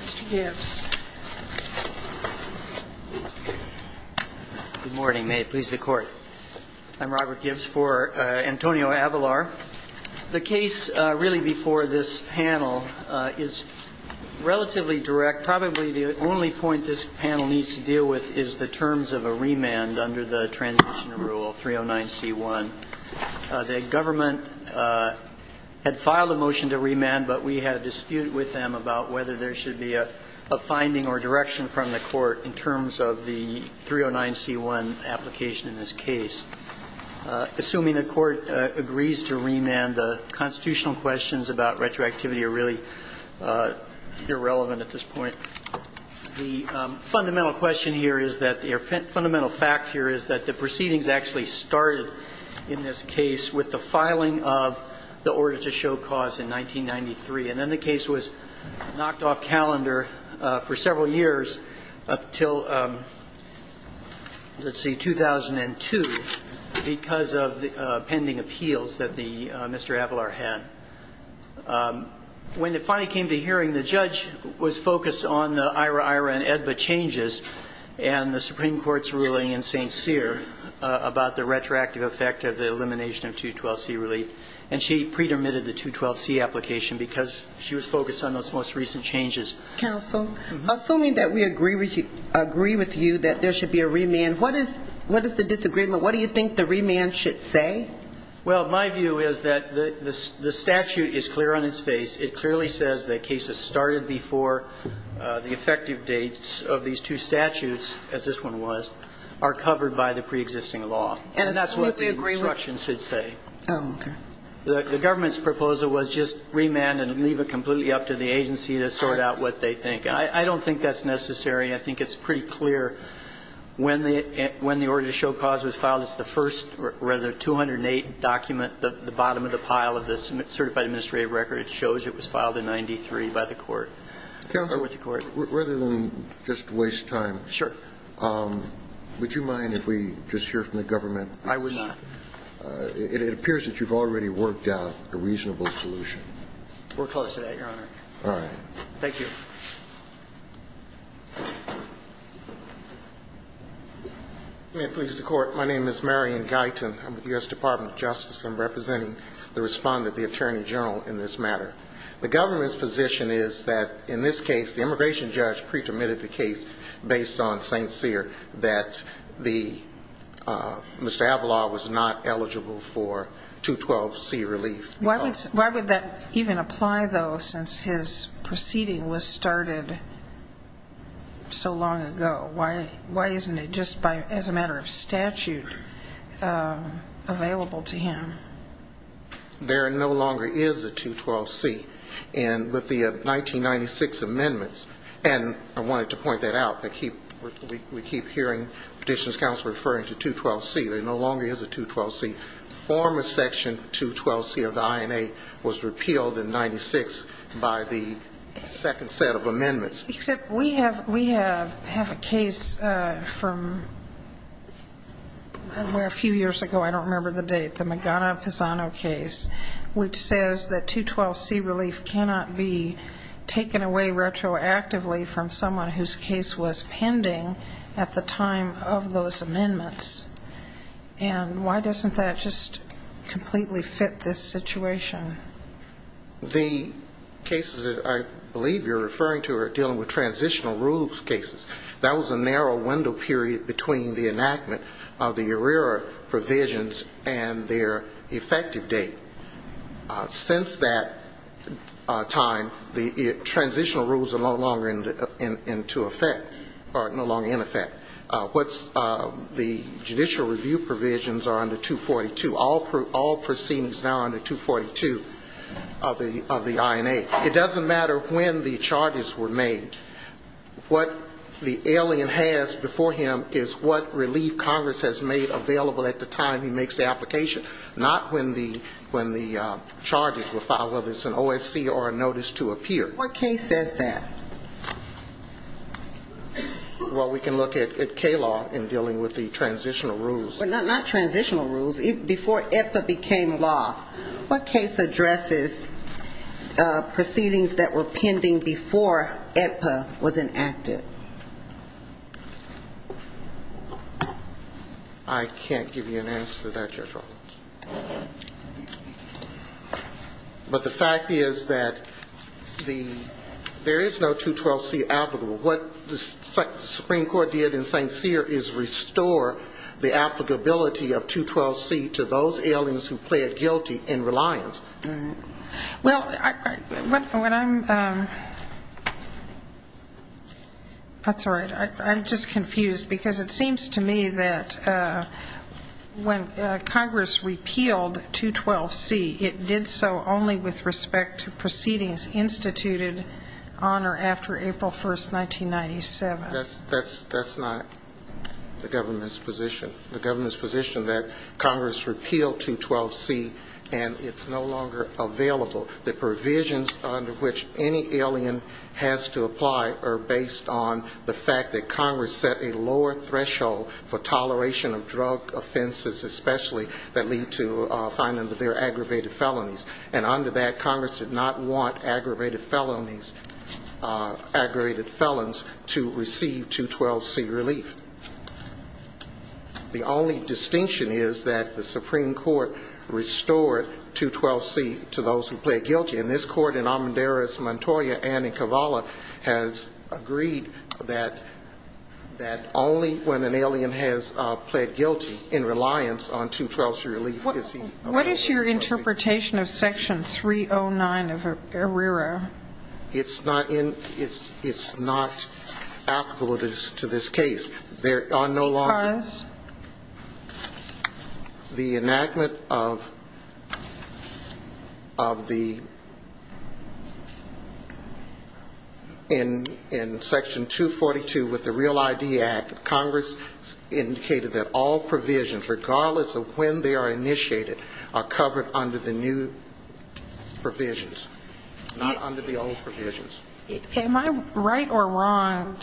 Mr. Gibbs. Good morning. May it please the Court. I'm Robert Gibbs for Antonio Avelar. The case really before this panel is relatively direct. Probably the only point this panel needs to deal with is the terms of a remand under the Transition Rule 309C1. The government had filed a motion to remand, but we had a dispute with them about whether there should be a finding or direction from the Court in terms of the 309C1 application in this case. Assuming the Court agrees to remand, the constitutional questions about retroactivity are really irrelevant at this point. The fundamental question here is that the fundamental fact here is that the proceedings actually started in this case with the filing of the order to show cause in 1993. And then the case was knocked off calendar for several years up until, let's see, 2002 because of the pending appeals that Mr. Avelar had. When it finally came to hearing, the judge was focused on the IRA-IRA and EDBA changes and the Supreme Court's ruling in St. Cyr about the retroactive effect of the elimination of 212C relief. And she pre-dermitted the 212C application because she was focused on those most recent changes. Counsel, assuming that we agree with you that there should be a remand, what is the disagreement? What do you think the remand should say? Well, my view is that the statute is clear on its face. It clearly says that cases started before the effective dates of these two statutes, as this one was, are covered by the preexisting law. And that's what the instruction should say. Oh, okay. The government's proposal was just remand and leave it completely up to the agency to sort out what they think. I don't think that's necessary. I think it's pretty clear when the order to show cause was filed, it's the first rather 208 document at the bottom of the pile of the certified administrative record. It shows it was filed in 93 by the court. Counsel, rather than just waste time, would you mind if we just hear from the government? I would not. It appears that you've already worked out a reasonable solution. We're close to that, Your Honor. All right. Thank you. May it please the Court, my name is Marion Guyton. I'm with the U.S. Department of Justice. I'm representing the respondent, the Attorney General, in this matter. The government's position is that in this case, the immigration judge pre-permitted the case based on St. Cyr, that Mr. Avila was not eligible for 212C relief. Why would that even apply, though, since his proceeding was started so long ago? Why isn't it just as a matter of statute available to him? There no longer is a 212C. With the 1996 amendments, and I wanted to point that out, we keep hearing Petitions Counsel referring to 212C. There no longer is a 212C. The former Section 212C of the INA was repealed in 1996 by the second set of amendments. Except we have a case from where a few years ago, I don't remember the date, the Magana-Pisano case, which says that 212C relief cannot be taken away retroactively from someone whose case was pending at the time of those amendments. And why doesn't that just completely fit this situation? The cases that I believe you're referring to are dealing with transitional rules cases. That was a narrow window period between the enactment of the ARERA provisions and their effective date. Since that time, the transitional rules are no longer into effect, or no longer in effect. The judicial review provisions are under 242. All proceedings now are under 242 of the INA. It doesn't matter when the charges were made. What the alien has before him is what relief Congress has made available at the time he makes the application, not when the charges were filed, whether it's an OSC or a notice to appear. What case says that? Well, we can look at K-law in dealing with the transitional rules. Well, not transitional rules. Before AEDPA became law, what case addresses proceedings that were pending before AEDPA was enacted? I can't give you an answer to that, Judge Roberts. But the fact is that there is no 212C applicable. What the Supreme Court did in St. Cyr is restore the applicability of 212C to those aliens who plead guilty in reliance. Well, when I'm ‑‑ that's all right. I'm just confused, because it seems to me that when Congress repealed 212C, it did so only with respect to proceedings instituted on or after April 1st, 1997. That's not the government's position. The government's position that Congress repealed 212C and it's no longer available. The provisions under which any alien has to apply are based on the fact that Congress set a lower threshold for toleration of drug offenses especially that lead to finding that they're aggravated felonies. And under that, Congress did not want aggravated felonies, aggravated felons to receive 212C relief. The only distinction is that the Supreme Court restored 212C to those who plead guilty. And this Court in Almendarez, Montoya and in Kavala has agreed that only when an alien has plead guilty in reliance on 212C relief is he allowed to receive 212C. What is your interpretation of Section 309 of ARERA? It's not applicable to this case. Because? In Section 242 with the Real ID Act, Congress indicated that all provisions, regardless of when they are initiated, are covered under the new provisions. Am I right or wrong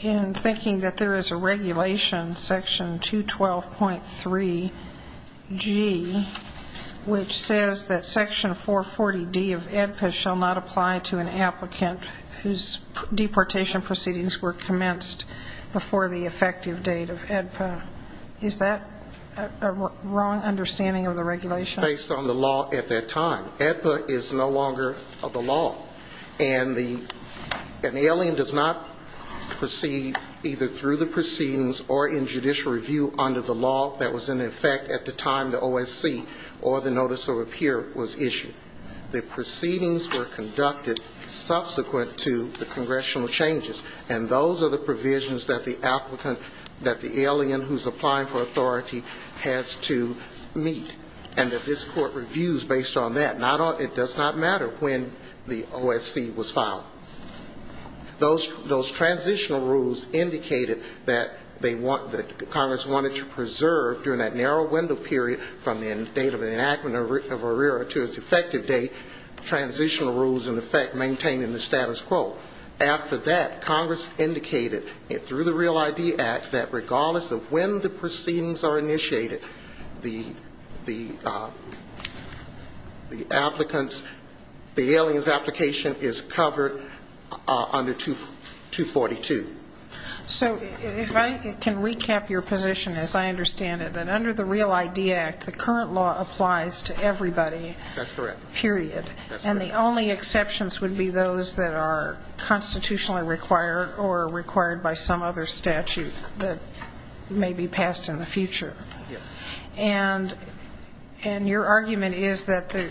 in thinking that there is a regulation, Section 212.3G, which says that Section 440D of AEDPA shall not apply to an applicant whose deportation proceedings were commenced before the effective date of AEDPA? Is that a wrong understanding of the regulation? It's based on the law at that time. AEDPA is no longer the law. And the alien does not proceed either through the proceedings or in judicial review under the law that was in effect at the time the OSC or the Notice of Repair was issued. The proceedings were conducted subsequent to the congressional changes. And those are the provisions that the applicant, that the alien who's applying for authority has to meet. And this Court reviews based on that. It does not matter when the OSC was filed. Those transitional rules indicated that Congress wanted to preserve during that narrow window period from the date of enactment of ARERA to its effective date transitional rules in effect maintaining the status quo. After that, Congress indicated through the Real ID Act that regardless of when the proceedings are initiated, the AEDPA shall not be subject to any changes. The applicants, the alien's application is covered under 242. So if I can recap your position as I understand it, that under the Real ID Act, the current law applies to everybody. That's correct. Period. And the only exceptions would be those that are constitutionally required or required by some other statute that may be passed in the future. Yes. And your argument is that the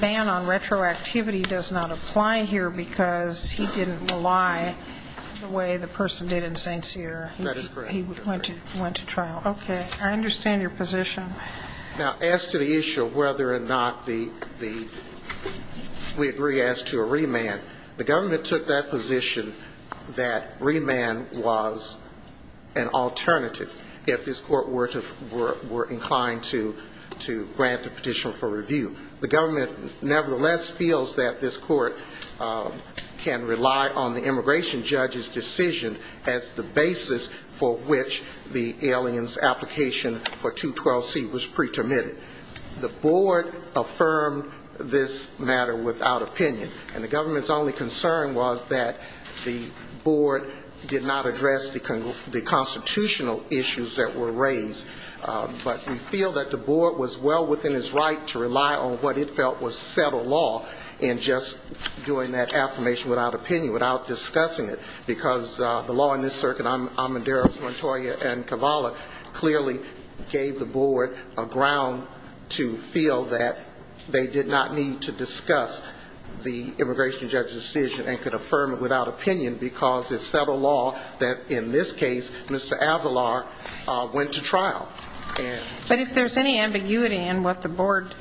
ban on retroactivity does not apply here because he didn't rely the way the person did in St. Cyr. That is correct. He went to trial. Okay. I understand your position. Now, as to the issue of whether or not the, we agree as to a remand, the government took that position that remand was an alternative if this court were inclined to grant a petition for review. The government nevertheless feels that this court can rely on the immigration judge's decision as the basis for which the alien's application for 212C would apply. And the government's only concern was that the board did not address the constitutional issues that were raised. But we feel that the board was well within its right to rely on what it felt was settled law in just doing that affirmation without opinion, without discussing it. Because the law in this circuit, Amadeiros, Montoya and Cavalli, clearly gave the board the right to do that. And they provided a ground to feel that they did not need to discuss the immigration judge's decision and could affirm it without opinion because it's settled law that, in this case, Mr. Avalar went to trial. But if there's any ambiguity in what the board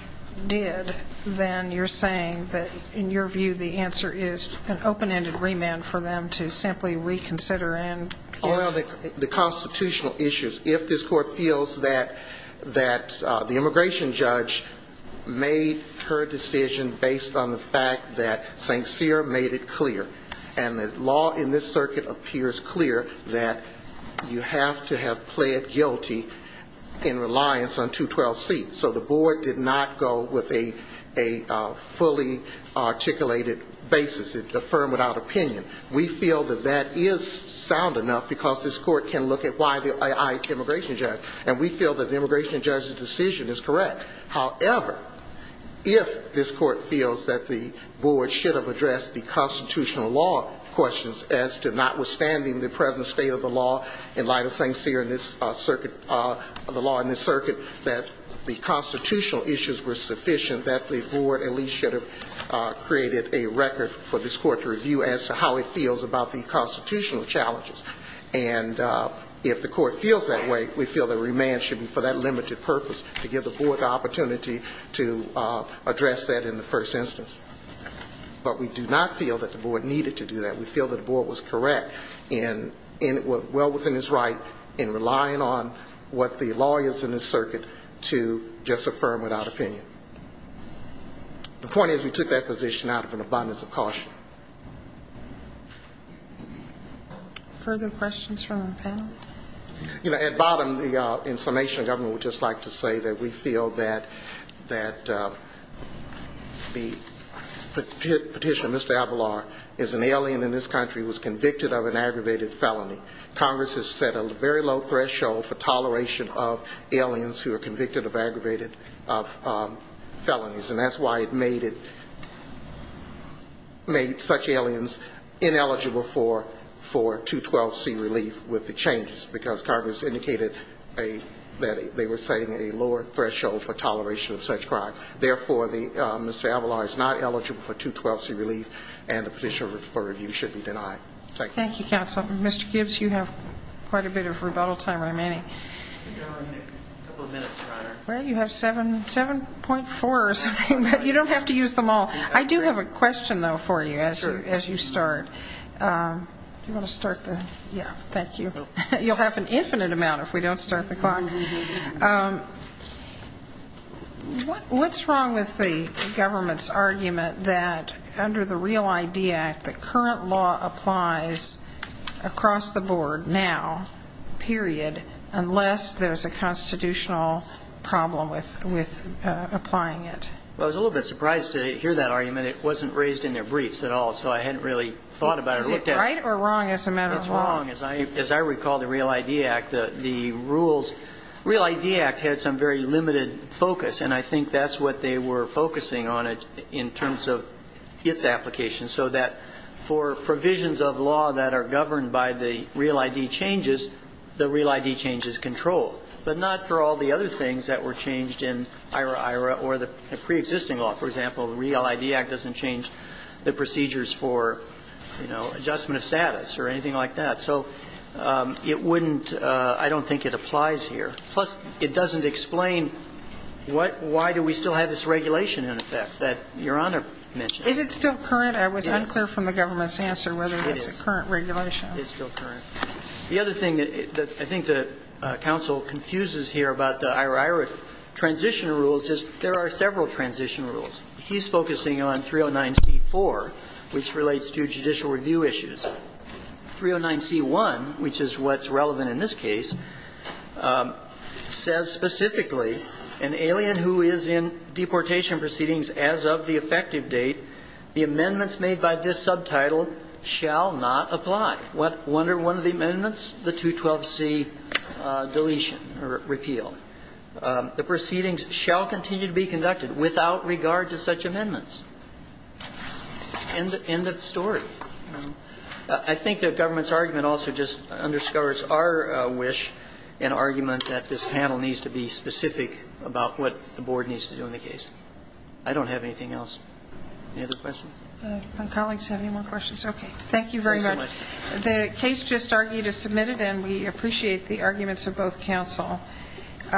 did, then you're saying that, in your view, the answer is an open-ended remand for them to simply reconsider and... Well, the constitutional issues, if this court feels that the immigration judge made her decision based on the fact that St. Cyr made it clear, and the law in this circuit appears clear that you have to have pled guilty in reliance on 212C. So the board did not go with a fully articulated basis, affirm without opinion. We feel that that is sound enough because this court can look at why the immigration judge. And we feel that the immigration judge's decision is correct. And if the court feels that way, we feel that remand should be for that limited purpose, to give the board the opportunity to address that in the first instance. But we do not feel that the board needed to do that. We feel that the board was correct in well within its right in relying on what the lawyers in this circuit to just affirm without opinion. The point is we took that position out of an abundance of caution. Further questions from the panel? You know, at bottom, the information government would just like to say that we feel that the petitioner, Mr. Avalar, is an alien in this country, was convicted of an aggravated felony. Congress has set a very low threshold for toleration of aliens who are convicted of aggravated felonies. And that's why it made such aliens ineligible for 212C relief with the changes, because Congress indicated that they were setting a lower threshold for toleration of such crime. Therefore, Mr. Avalar is not eligible for 212C relief, and the petitioner for review should be denied. Thank you, counsel. Mr. Gibbs, you have quite a bit of rebuttal time remaining. Well, you have 7.4 or something, but you don't have to use them all. I do have a question, though, for you as you start. You'll have an infinite amount if we don't start the clock. What's wrong with the government's argument that under the Real ID Act, the current law applies across the board now, period, unless there's a statute of limitations? Unless there's a constitutional problem with applying it? Well, I was a little bit surprised to hear that argument. It wasn't raised in their briefs at all, so I hadn't really thought about it or looked at it. Is it right or wrong as a matter of law? It's wrong. As I recall, the Real ID Act, the rules, the Real ID Act had some very limited focus, and I think that's what they were focusing on it in terms of its application, so that for provisions of law that are governed by the Real ID changes, the Real ID changes control it. But not for all the other things that were changed in IRA, IRA or the preexisting law. For example, the Real ID Act doesn't change the procedures for, you know, adjustment of status or anything like that. So it wouldn't – I don't think it applies here. Plus, it doesn't explain what – why do we still have this regulation in effect that Your Honor mentioned? Is it still current? I was unclear from the government's answer whether it's a current regulation. It's still current. The other thing that I think the counsel confuses here about the IRA, IRA transition rules is there are several transition rules. He's focusing on 309C4, which relates to judicial review issues. 309C1, which is what's relevant in this case, says specifically, an alien who is in deportation proceedings as of the effective date, the amendments made by this subtitle shall not apply. What – one or one of the amendments? The 212C deletion or repeal. The proceedings shall continue to be conducted without regard to such amendments. End of story. I think the government's argument also just underscores our wish and argument that this panel needs to be specific about what the board needs to do in the case. I don't have anything else. Any other questions? My colleagues have any more questions? Okay. Thank you very much.